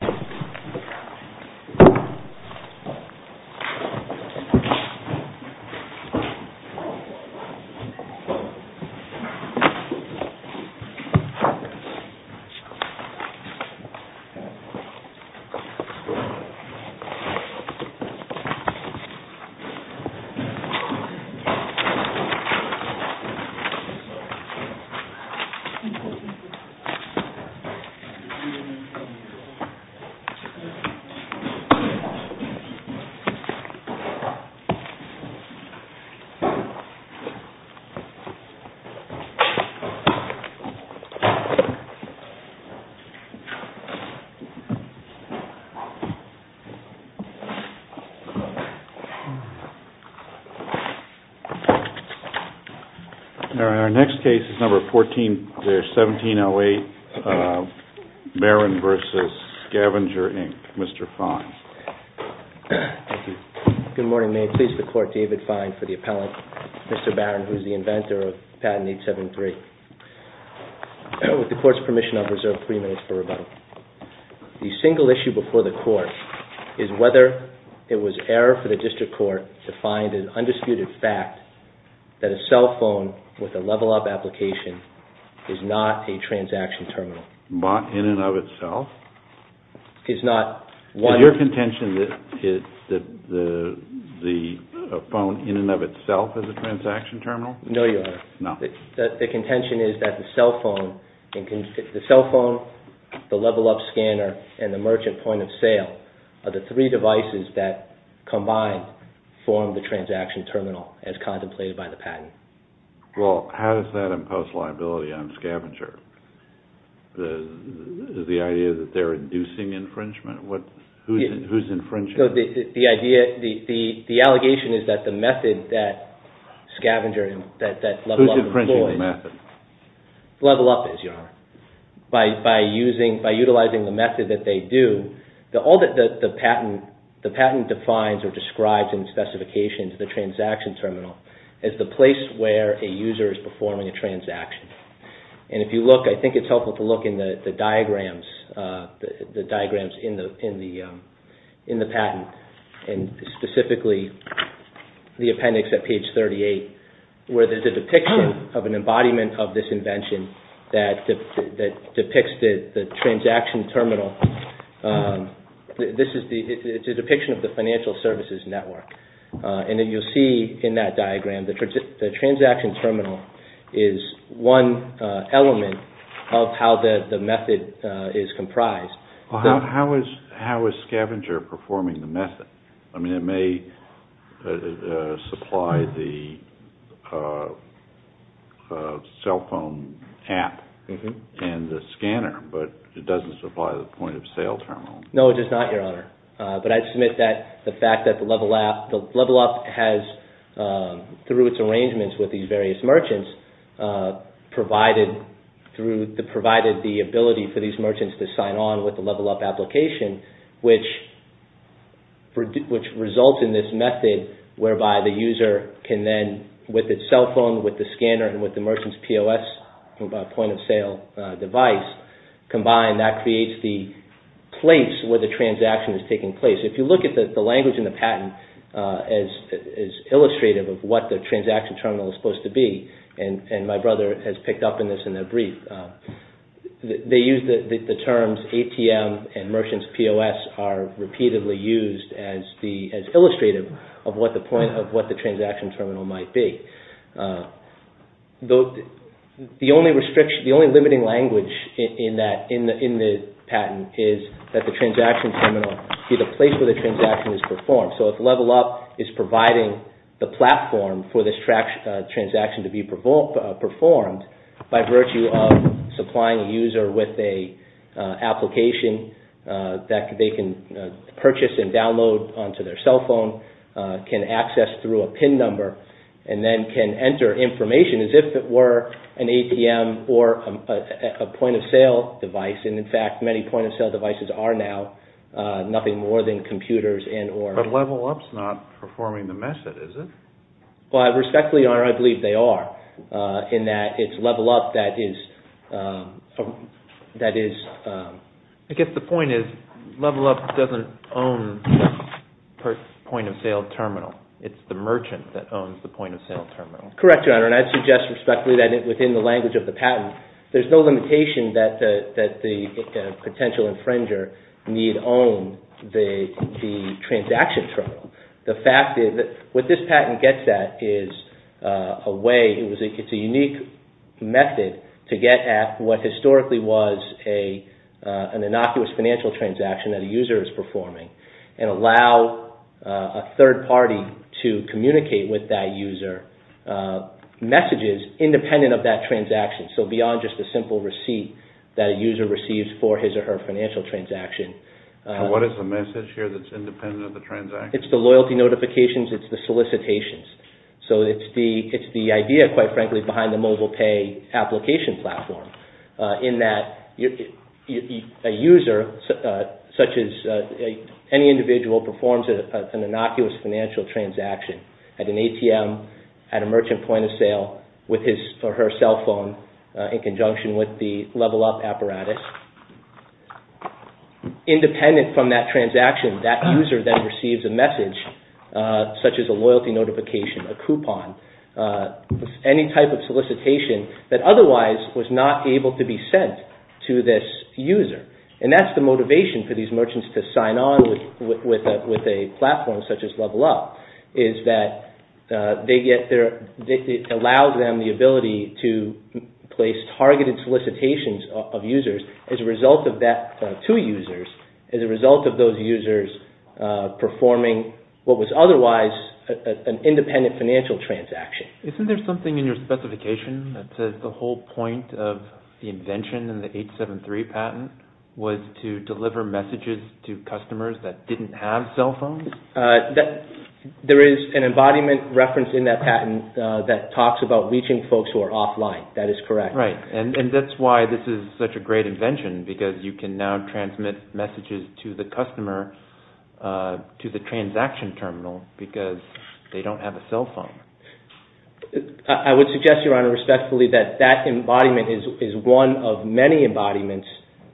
SCVNGR, Inc. Our next case is number 14-1708, Barron v. SCVNGR, Inc., Mr. Fein. Good morning. May it please the Court, David Fein for the appellant, Mr. Barron, who is the inventor of Patent 873. With the Court's permission, I'll preserve three minutes for rebuttal. The single issue before the Court is whether it was error for the District Court to find an undisputed fact that a cell phone with a level-up application is not a transaction terminal. In and of itself? Is not one... Is your contention that the phone in and of itself is a transaction terminal? No, Your Honor. No. The contention is that the cell phone, the level-up scanner, and the merchant point-of-sale are the three devices that combined form the transaction terminal as contemplated by the patent. Well, how does that impose liability on SCVNGR? The idea that they're inducing infringement? Who's infringing? The allegation is that the method that SCVNGR employed... Who's infringing the method? Level-up is, Your Honor. By utilizing the method that they do, all that the patent defines or describes in specifications into the transaction terminal is the place where a user is performing a transaction. And if you look, I think it's helpful to look in the diagrams, the diagrams in the patent, and specifically the appendix at page 38, where there's a depiction of an embodiment of this invention that depicts the transaction terminal. It's a depiction of the financial services network. And then you'll see in that diagram, the transaction terminal is one element of how the method is comprised. How is SCVNGR performing the method? I mean, it may supply the cell phone app and the scanner, but it doesn't supply the point-of-sale terminal. No, it does not, Your Honor. But I submit that the fact that the level-up has, through its arrangements with these various merchants, provided the ability for these merchants to sign on with the level-up application, which results in this method whereby the user can then, with its cell phone, with the scanner, and with the merchant's POS, point-of-sale device combined, that creates the place where the transaction is taking place. If you look at the language in the patent as illustrative of what the transaction terminal is supposed to be, and my brother has picked up on this in a brief, they use the terms ATM and merchant's POS are repeatedly used as illustrative of what the transaction terminal might be. The only limiting language in the patent is that the transaction terminal be the place where the transaction is performed. So if level-up is providing the platform for this transaction to be performed that they can purchase and download onto their cell phone, can access through a PIN number, and then can enter information as if it were an ATM or a point-of-sale device, and in fact many point-of-sale devices are now nothing more than computers and or... But level-up is not performing the method, is it? Well, respectfully, Your Honor, I believe they are, in that it's level-up that is... I guess the point is level-up doesn't own the point-of-sale terminal. It's the merchant that owns the point-of-sale terminal. Correct, Your Honor, and I'd suggest respectfully that within the language of the patent, there's no limitation that the potential infringer need own the transaction terminal. The fact is, what this patent gets at is a way, it's a unique method to get at what historically was an innocuous financial transaction that a user is performing and allow a third party to communicate with that user messages independent of that transaction, so beyond just a simple receipt that a user receives for his or her financial transaction. What is the message here that's independent of the transaction? It's the loyalty notifications, it's the solicitations. So it's the idea, quite frankly, behind the mobile pay application platform in that a user, such as any individual, performs an innocuous financial transaction at an ATM, at a merchant point-of-sale with his or her cell phone in conjunction with the level-up apparatus. Independent from that transaction, that user then receives a message, such as a loyalty notification, a coupon, any type of solicitation that otherwise was not able to be sent to this user. And that's the motivation for these merchants to sign on with a platform such as level-up, is that it allows them the ability to place targeted solicitations of users as a result of those users performing what was otherwise an independent financial transaction. Isn't there something in your specification that says the whole point of the invention and the 873 patent was to deliver messages to customers that didn't have cell phones? There is an embodiment reference in that patent that talks about reaching folks who are offline. That is correct. Right, and that's why this is such a great invention, because you can now transmit messages to the customer to the transaction terminal because they don't have a cell phone. I would suggest, Your Honor, respectfully, that that embodiment is one of many embodiments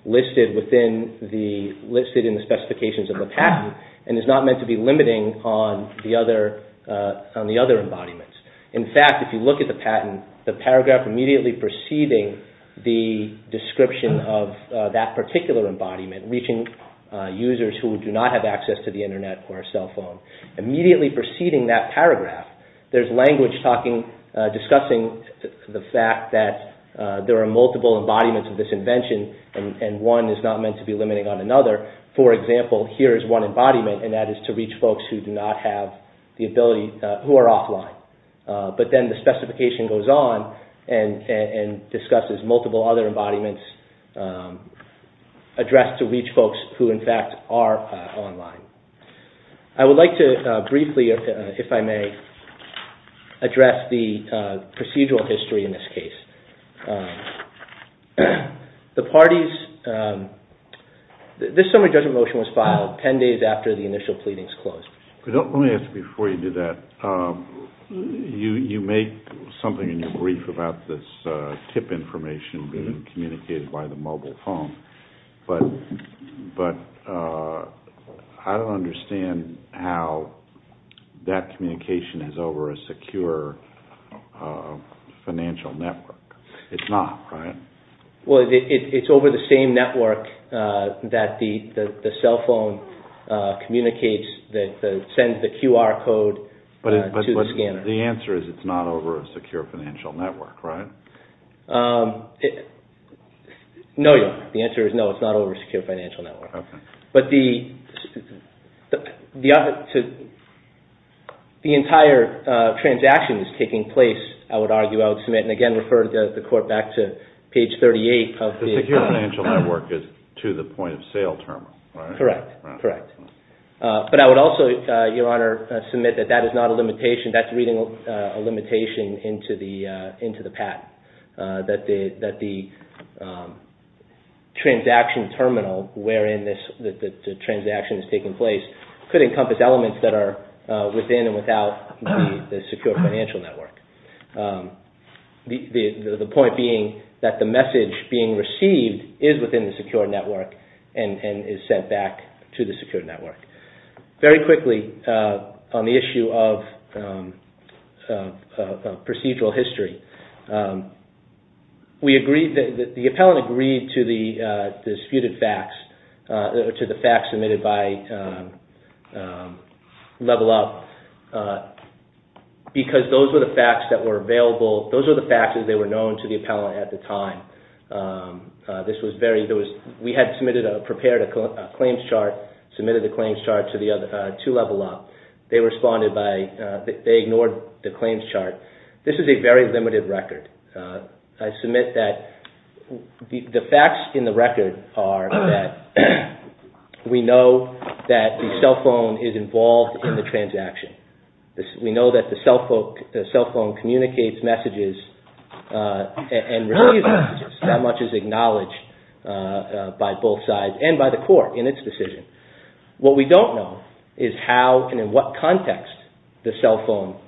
listed in the specifications of the patent and is not meant to be limiting on the other embodiments. In fact, if you look at the patent, the paragraph immediately preceding the description of that particular embodiment, reaching users who do not have access to the Internet or a cell phone, immediately preceding that paragraph, there's language discussing the fact that there are multiple embodiments of this invention and one is not meant to be limiting on another. For example, here is one embodiment, and that is to reach folks who are offline. But then the specification goes on and discusses multiple other embodiments addressed to reach folks who, in fact, are online. I would like to briefly, if I may, address the procedural history in this case. This summary judgment motion was filed 10 days after the initial pleadings closed. Let me ask you before you do that, you make something in your brief about this tip information being communicated by the mobile phone, but I don't understand how that communication is over a secure financial network. It's not, right? Well, it's over the same network that the cell phone communicates, that sends the QR code to the scanner. But the answer is it's not over a secure financial network, right? No, the answer is no, it's not over a secure financial network. Okay. The entire transaction is taking place, I would argue, and again refer the court back to page 38. The secure financial network is to the point-of-sale terminal, right? Correct. But I would also, Your Honor, submit that that is not a limitation, that's reading a limitation into the patent, that the transaction terminal wherein the transaction is taking place could encompass elements that are within and without the secure financial network. The point being that the message being received is within the secure network and is sent back to the secure network. Very quickly, on the issue of procedural history, the appellant agreed to the disputed facts, to the facts submitted by Level Up, because those were the facts that were available, those were the facts that were known to the appellant at the time. We had prepared a claims chart, submitted the claims chart to Level Up. They ignored the claims chart. This is a very limited record. I submit that the facts in the record are that we know that the cell phone is involved in the transaction. We know that the cell phone communicates messages and receives messages, that much is acknowledged by both sides and by the court in its decision. What we don't know is how and in what context the cell phone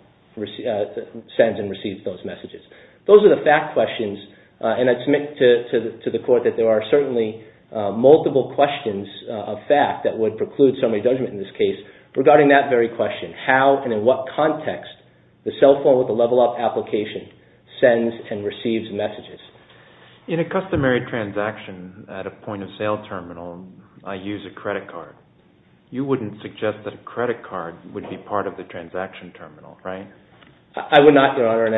sends and receives those messages. Those are the fact questions, and I submit to the court that there are certainly multiple questions of fact that would preclude summary judgment in this case regarding that very question, how and in what context the cell phone with the Level Up application sends and receives messages. In a customary transaction at a point of sale terminal, I use a credit card. You wouldn't suggest that a credit card would be part of the transaction terminal, right? Now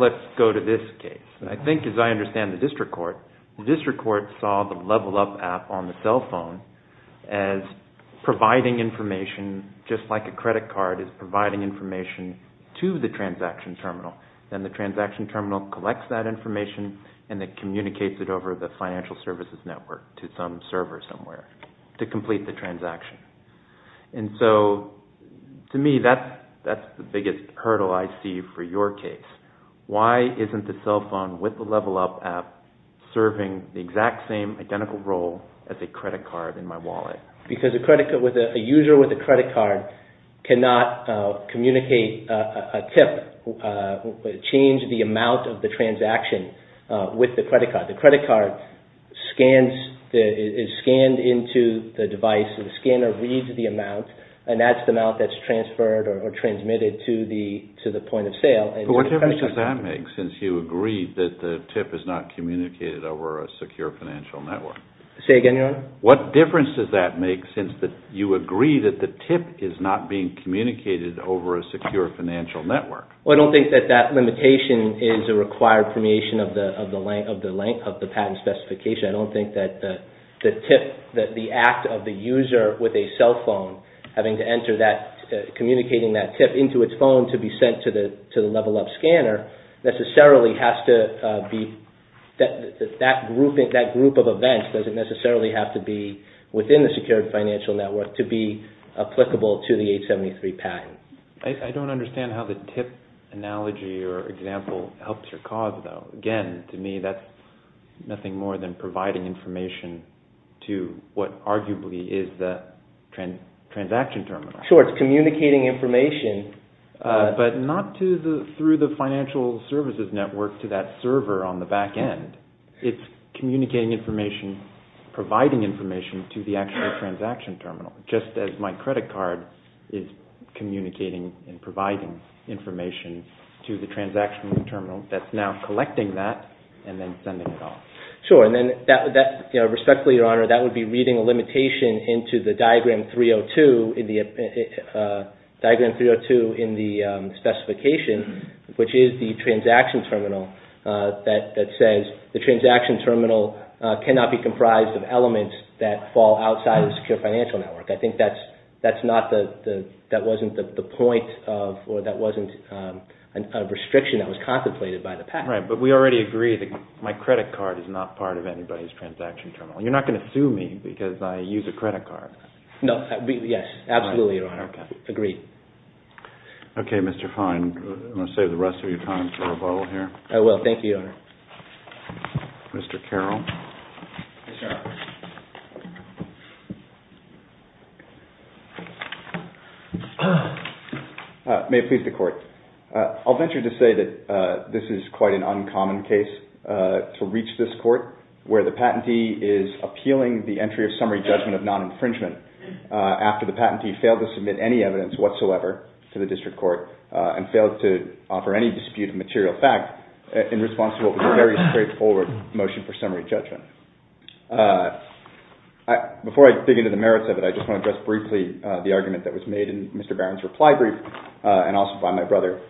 let's go to this case. I think, as I understand the district court, the district court saw the Level Up app on the cell phone as providing information, just like a credit card is providing information to the transaction terminal, and the transaction terminal collects that information and then communicates it over the financial services network to some server somewhere to complete the transaction. To me, that's the biggest hurdle I see for your case. Why isn't the cell phone with the Level Up app serving the exact same identical role as a credit card in my wallet? Because a user with a credit card cannot communicate a tip, change the amount of the transaction with the credit card. The credit card is scanned into the device. The scanner reads the amount, and that's the amount that's transferred or transmitted to the point of sale. What difference does that make since you agree that the tip is not communicated over a secure financial network? Say again, Your Honor? What difference does that make since you agree that the tip is not being communicated over a secure financial network? Well, I don't think that that limitation is a required permeation of the length of the patent specification. I don't think that the tip, the act of the user with a cell phone having to enter that, communicating that tip into its phone to be sent to the Level Up scanner necessarily has to be, that group of events doesn't necessarily have to be within the secured financial network to be applicable to the 873 patent. I don't understand how the tip analogy or example helps your cause, though. Again, to me, that's nothing more than providing information to what arguably is the transaction terminal. Sure, it's communicating information. But not through the financial services network to that server on the back end. It's communicating information, providing information to the actual transaction terminal, just as my credit card is communicating and providing information to the transaction terminal that's now collecting that and then sending it off. Sure, and then, respectfully, Your Honor, that would be reading a limitation into the Diagram 302 in the specification, which is the transaction terminal that says, the transaction terminal cannot be comprised of elements that fall outside of the secured financial network. I think that wasn't the point of, or that wasn't a restriction that was contemplated by the patent. Right, but we already agree that my credit card is not part of anybody's transaction terminal. You're not going to sue me because I use a credit card. No, yes, absolutely, Your Honor. Okay. Agreed. Okay, Mr. Fine, I'm going to save the rest of your time for a vote here. I will. Thank you, Your Honor. Mr. Carroll. Yes, Your Honor. May it please the Court. I'll venture to say that this is quite an uncommon case to reach this Court, where the patentee is appealing the entry of summary judgment of non-infringement after the patentee failed to submit any evidence whatsoever to the District Court and failed to offer any dispute of material fact in response to what was a very straightforward motion for summary judgment. Before I dig into the merits of it, I just want to address briefly the argument that was made in Mr. Barron's reply brief and also by my brother,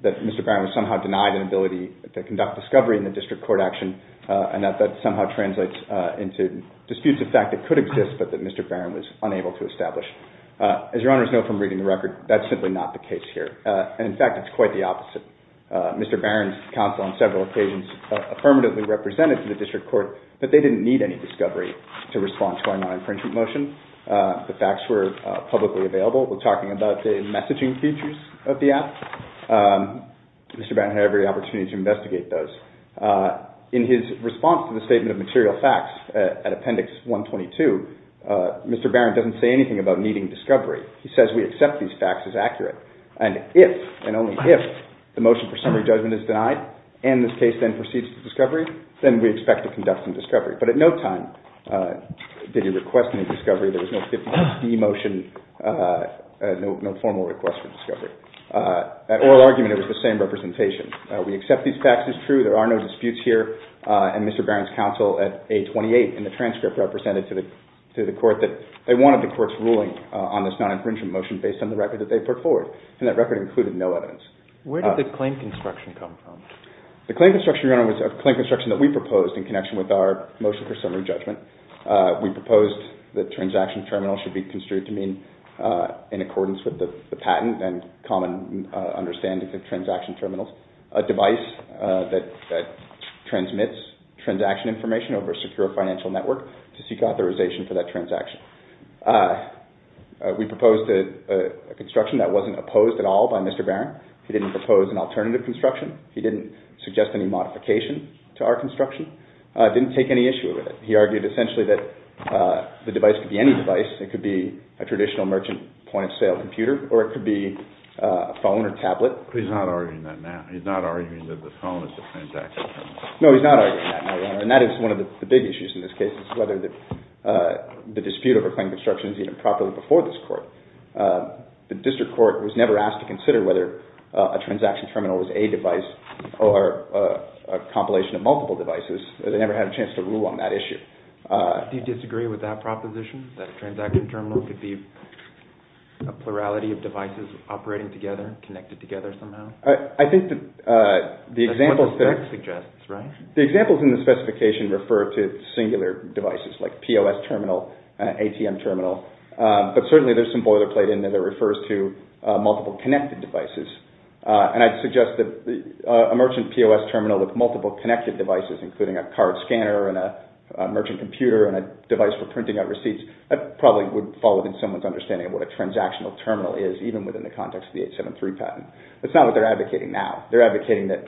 that Mr. Barron was somehow denied an ability to conduct discovery in the District Court action and that that somehow translates into disputes of fact that could exist but that Mr. Barron was unable to establish. As Your Honors know from reading the record, that's simply not the case here. And in fact, it's quite the opposite. Mr. Barron's counsel on several occasions affirmatively represented to the District Court that they didn't need any discovery to respond to a non-infringement motion. The facts were publicly available. We're talking about the messaging features of the app. Mr. Barron had every opportunity to investigate those. In his response to the statement of material facts at Appendix 122, Mr. Barron doesn't say anything about needing discovery. He says we accept these facts as accurate. And if and only if the motion for summary judgment is denied and this case then proceeds to discovery, then we expect to conduct some discovery. But at no time did he request any discovery. There was no 50-plus D motion, no formal request for discovery. At oral argument, it was the same representation. We accept these facts as true. There are no disputes here. And Mr. Barron's counsel at A28 in the transcript represented to the Court that they wanted the Court's ruling on this non-infringement motion based on the record that they put forward, and that record included no evidence. Where did the claim construction come from? The claim construction, Your Honor, was a claim construction that we proposed in connection with our motion for summary judgment. We proposed that transaction terminals should be construed to mean, in accordance with the patent and common understanding of transaction terminals, a device that transmits transaction information over a secure financial network to seek authorization for that transaction. We proposed a construction that wasn't opposed at all by Mr. Barron. He didn't propose an alternative construction. He didn't suggest any modification to our construction. Didn't take any issue with it. He argued essentially that the device could be any device. It could be a traditional merchant point-of-sale computer, or it could be a phone or tablet. He's not arguing that now. He's not arguing that the phone is the transaction terminal. No, he's not arguing that now, Your Honor. And that is one of the big issues in this case, is whether the dispute over claim construction is even properly before this court. The district court was never asked to consider whether a transaction terminal was a device or a compilation of multiple devices. They never had a chance to rule on that issue. Do you disagree with that proposition, that a transaction terminal could be a plurality of devices operating together, connected together somehow? That's what the text suggests, right? The examples in the specification refer to singular devices, like POS terminal and ATM terminal, but certainly there's some boilerplate in that it refers to multiple connected devices. And I'd suggest that a merchant POS terminal with multiple connected devices, including a card scanner and a merchant computer and a device for printing out receipts, that probably would fall within someone's understanding of what a transactional terminal is, even within the context of the 873 patent. That's not what they're advocating now. They're advocating that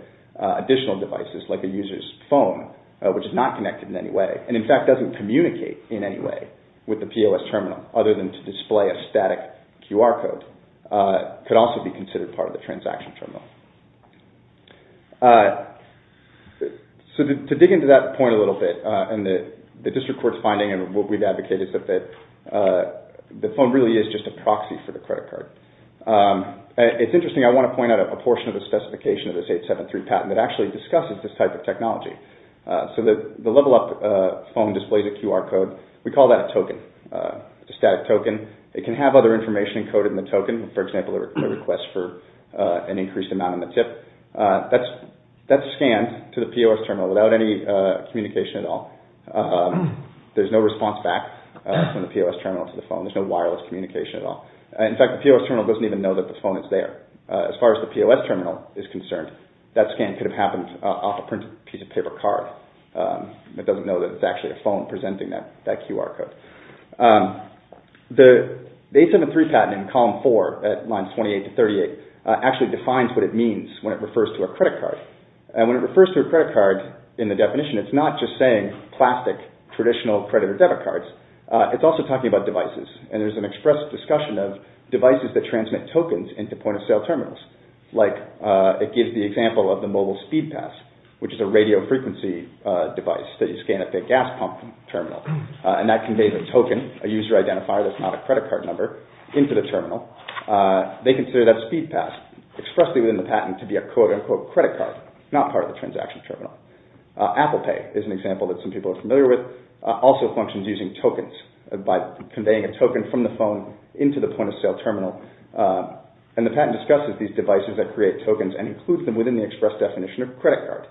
additional devices, like a user's phone, which is not connected in any way, and in fact doesn't communicate in any way with the POS terminal, other than to display a static QR code, could also be considered part of the transaction terminal. So to dig into that point a little bit, and the district court's finding and what we've advocated, is that the phone really is just a proxy for the credit card. It's interesting. I want to point out a portion of the specification of this 873 patent that actually discusses this type of technology. So the level-up phone displays a QR code. We call that a token, a static token. It can have other information encoded in the token, for example, a request for an increased amount on the tip. That's scanned to the POS terminal without any communication at all. There's no response back from the POS terminal to the phone. There's no wireless communication at all. In fact, the POS terminal doesn't even know that the phone is there. As far as the POS terminal is concerned, that scan could have happened off a printed piece of paper card. It doesn't know that it's actually a phone presenting that QR code. The 873 patent in column 4 at lines 28 to 38 actually defines what it means when it refers to a credit card, and when it refers to a credit card in the definition, it's not just saying plastic traditional credit or debit cards. It's also talking about devices, and there's an express discussion of devices that transmit tokens into point-of-sale terminals, like it gives the example of the mobile speed pass, which is a radio frequency device that you scan at the gas pump terminal, and that conveys a token, a user identifier that's not a credit card number, into the terminal. They consider that speed pass expressly within the patent to be a quote-unquote credit card, not part of the transaction terminal. Apple Pay is an example that some people are familiar with. Apple Pay also functions using tokens by conveying a token from the phone into the point-of-sale terminal, and the patent discusses these devices that create tokens and includes them within the express definition of credit card.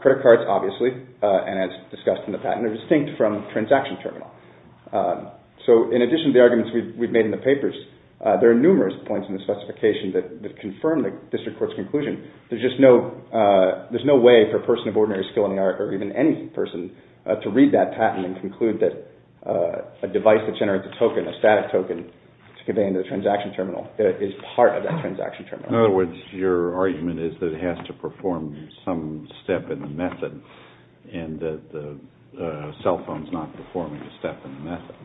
Credit cards, obviously, as discussed in the patent, are distinct from transaction terminal. So in addition to the arguments we've made in the papers, there are numerous points in the specification that confirm the district court's conclusion. There's no way for a person of ordinary skill in the art, or even any person, to read that patent and conclude that a device that generates a token, a static token, to convey into the transaction terminal is part of that transaction terminal. In other words, your argument is that it has to perform some step in the method, and that the cell phone's not performing a step in the method.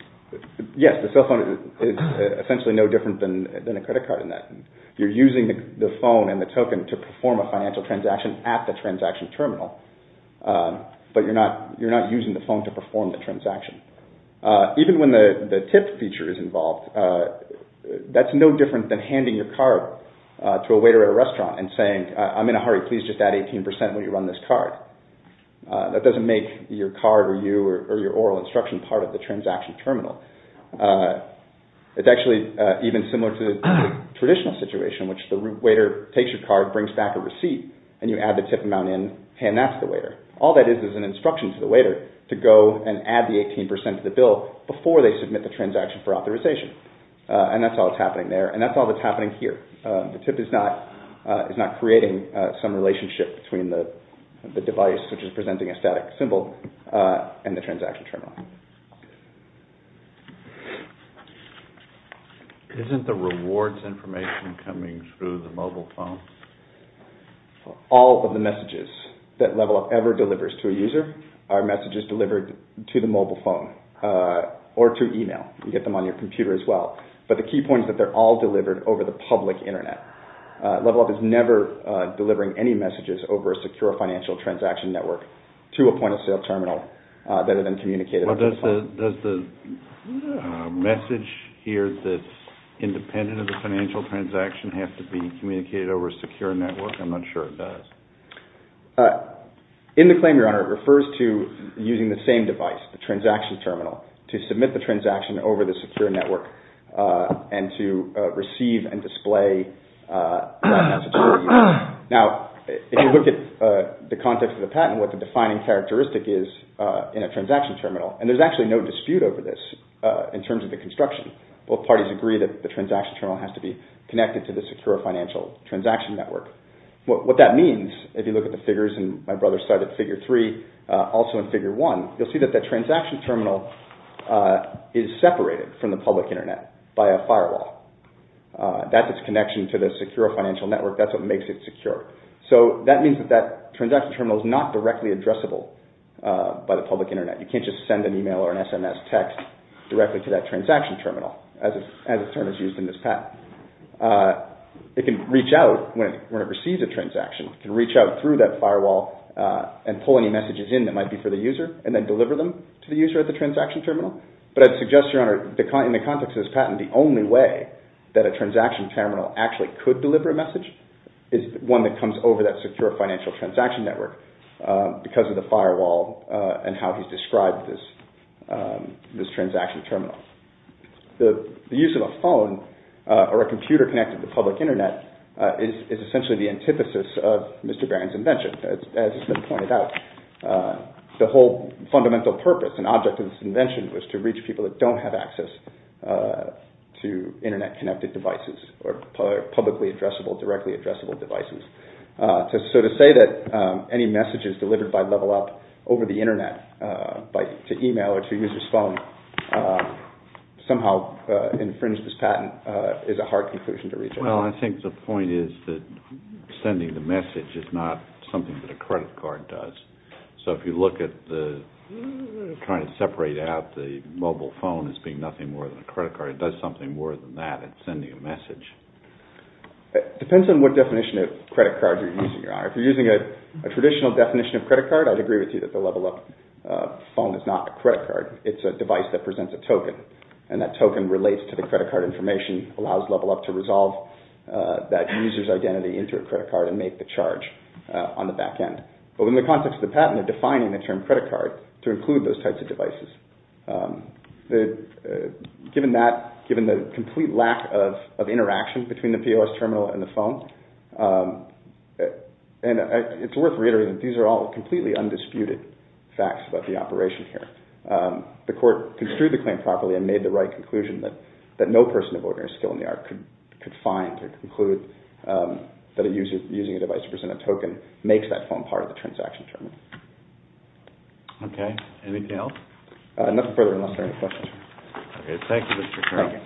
Yes, the cell phone is essentially no different than a credit card in that. You're using the phone and the token to perform a financial transaction at the transaction terminal, but you're not using the phone to perform the transaction. Even when the tip feature is involved, that's no different than handing your card to a waiter at a restaurant and saying, I'm in a hurry, please just add 18% when you run this card. That doesn't make your card or your oral instruction part of the transaction terminal. It's actually even similar to the traditional situation, which the waiter takes your card, brings back a receipt, and you add the tip amount in, hand that to the waiter. All that is is an instruction to the waiter to go and add the 18% to the bill before they submit the transaction for authorization. And that's all that's happening there, and that's all that's happening here. The tip is not creating some relationship between the device, which is presenting a static symbol, and the transaction terminal. Isn't the rewards information coming through the mobile phone? All of the messages that LevelUp ever delivers to a user are messages delivered to the mobile phone or to email. You get them on your computer as well. But the key point is that they're all delivered over the public Internet. LevelUp is never delivering any messages over a secure financial transaction network to a point-of-sale terminal Does the message here that's independent of the financial transaction have to be communicated over a secure network? I'm not sure it does. In the claim, Your Honor, it refers to using the same device, the transaction terminal, to submit the transaction over the secure network and to receive and display that message to a user. Now, if you look at the context of the patent, and what the defining characteristic is in a transaction terminal, and there's actually no dispute over this in terms of the construction. Both parties agree that the transaction terminal has to be connected to the secure financial transaction network. What that means, if you look at the figures, and my brother cited figure 3, also in figure 1, you'll see that the transaction terminal is separated from the public Internet by a firewall. That's its connection to the secure financial network. That's what makes it secure. So that means that that transaction terminal is not directly addressable by the public Internet. You can't just send an email or an SMS text directly to that transaction terminal, as the term is used in this patent. It can reach out when it receives a transaction. It can reach out through that firewall and pull any messages in that might be for the user and then deliver them to the user at the transaction terminal. But I'd suggest, Your Honor, in the context of this patent, the only way that a transaction terminal actually could deliver a message is one that comes over that secure financial transaction network because of the firewall and how he's described this transaction terminal. The use of a phone or a computer connected to public Internet is essentially the antithesis of Mr. Barron's invention. As has been pointed out, the whole fundamental purpose and object of this invention was to reach people that don't have access to Internet-connected devices or publicly addressable, directly addressable devices. So to say that any messages delivered by Level Up over the Internet to email or to a user's phone somehow infringed this patent is a hard conclusion to reach. Well, I think the point is that sending the message is not something that a credit card does. So if you look at trying to separate out the mobile phone as being nothing more than a credit card, does something more than that in sending a message? It depends on what definition of credit card you're using, Your Honor. If you're using a traditional definition of credit card, I'd agree with you that the Level Up phone is not a credit card. It's a device that presents a token, and that token relates to the credit card information, allows Level Up to resolve that user's identity into a credit card and make the charge on the back end. But in the context of the patent, they're defining the term credit card to include those types of devices. Given the complete lack of interaction between the POS terminal and the phone, and it's worth reiterating that these are all completely undisputed facts about the operation here, the court construed the claim properly and made the right conclusion that no person of ordinary skill in the art could find or conclude that a user using a device to present a token makes that phone part of the transaction terminal. Okay. Anything else? Nothing further, unless there are any questions. Okay. Thank you, Mr. Kerrigan.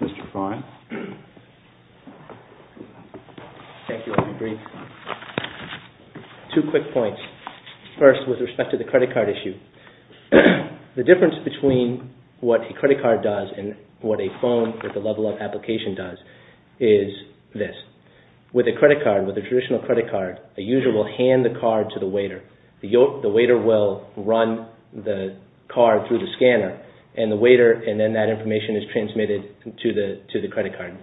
Mr. Fine? Thank you, Mr. Green. Two quick points. First, with respect to the credit card issue. The difference between what a credit card does and what a phone with a Level Up application does is this. With a credit card, with a traditional credit card, a user will hand the card to the waiter. The waiter will run the card through the scanner, and the waiter, and then that information is transmitted to the credit card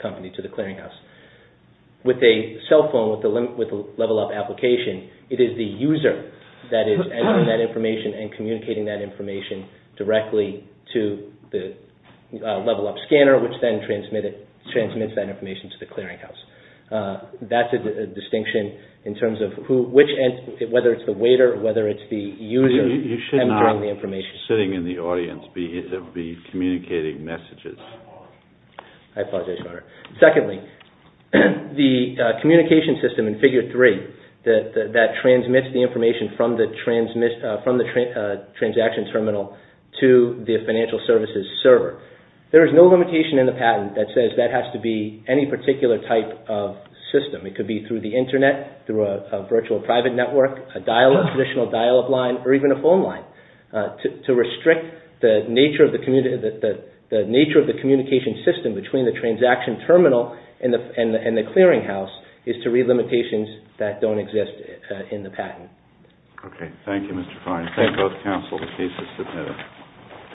company, to the clearinghouse. With a cell phone with a Level Up application, it is the user that is entering that information and communicating that information directly to the Level Up scanner, which then transmits that information to the clearinghouse. That's a distinction in terms of whether it's the waiter or whether it's the user entering the information. You should not, sitting in the audience, be communicating messages. I apologize, Your Honor. Secondly, the communication system in Figure 3 that transmits the information to the financial services server, there is no limitation in the patent that says that has to be any particular type of system. It could be through the Internet, through a virtual private network, a dial-up, a traditional dial-up line, or even a phone line. To restrict the nature of the communication system between the transaction terminal and the clearinghouse is to read limitations that don't exist in the patent. Okay. Thank you, Mr. Fine. Thank both counsel. The case is submitted.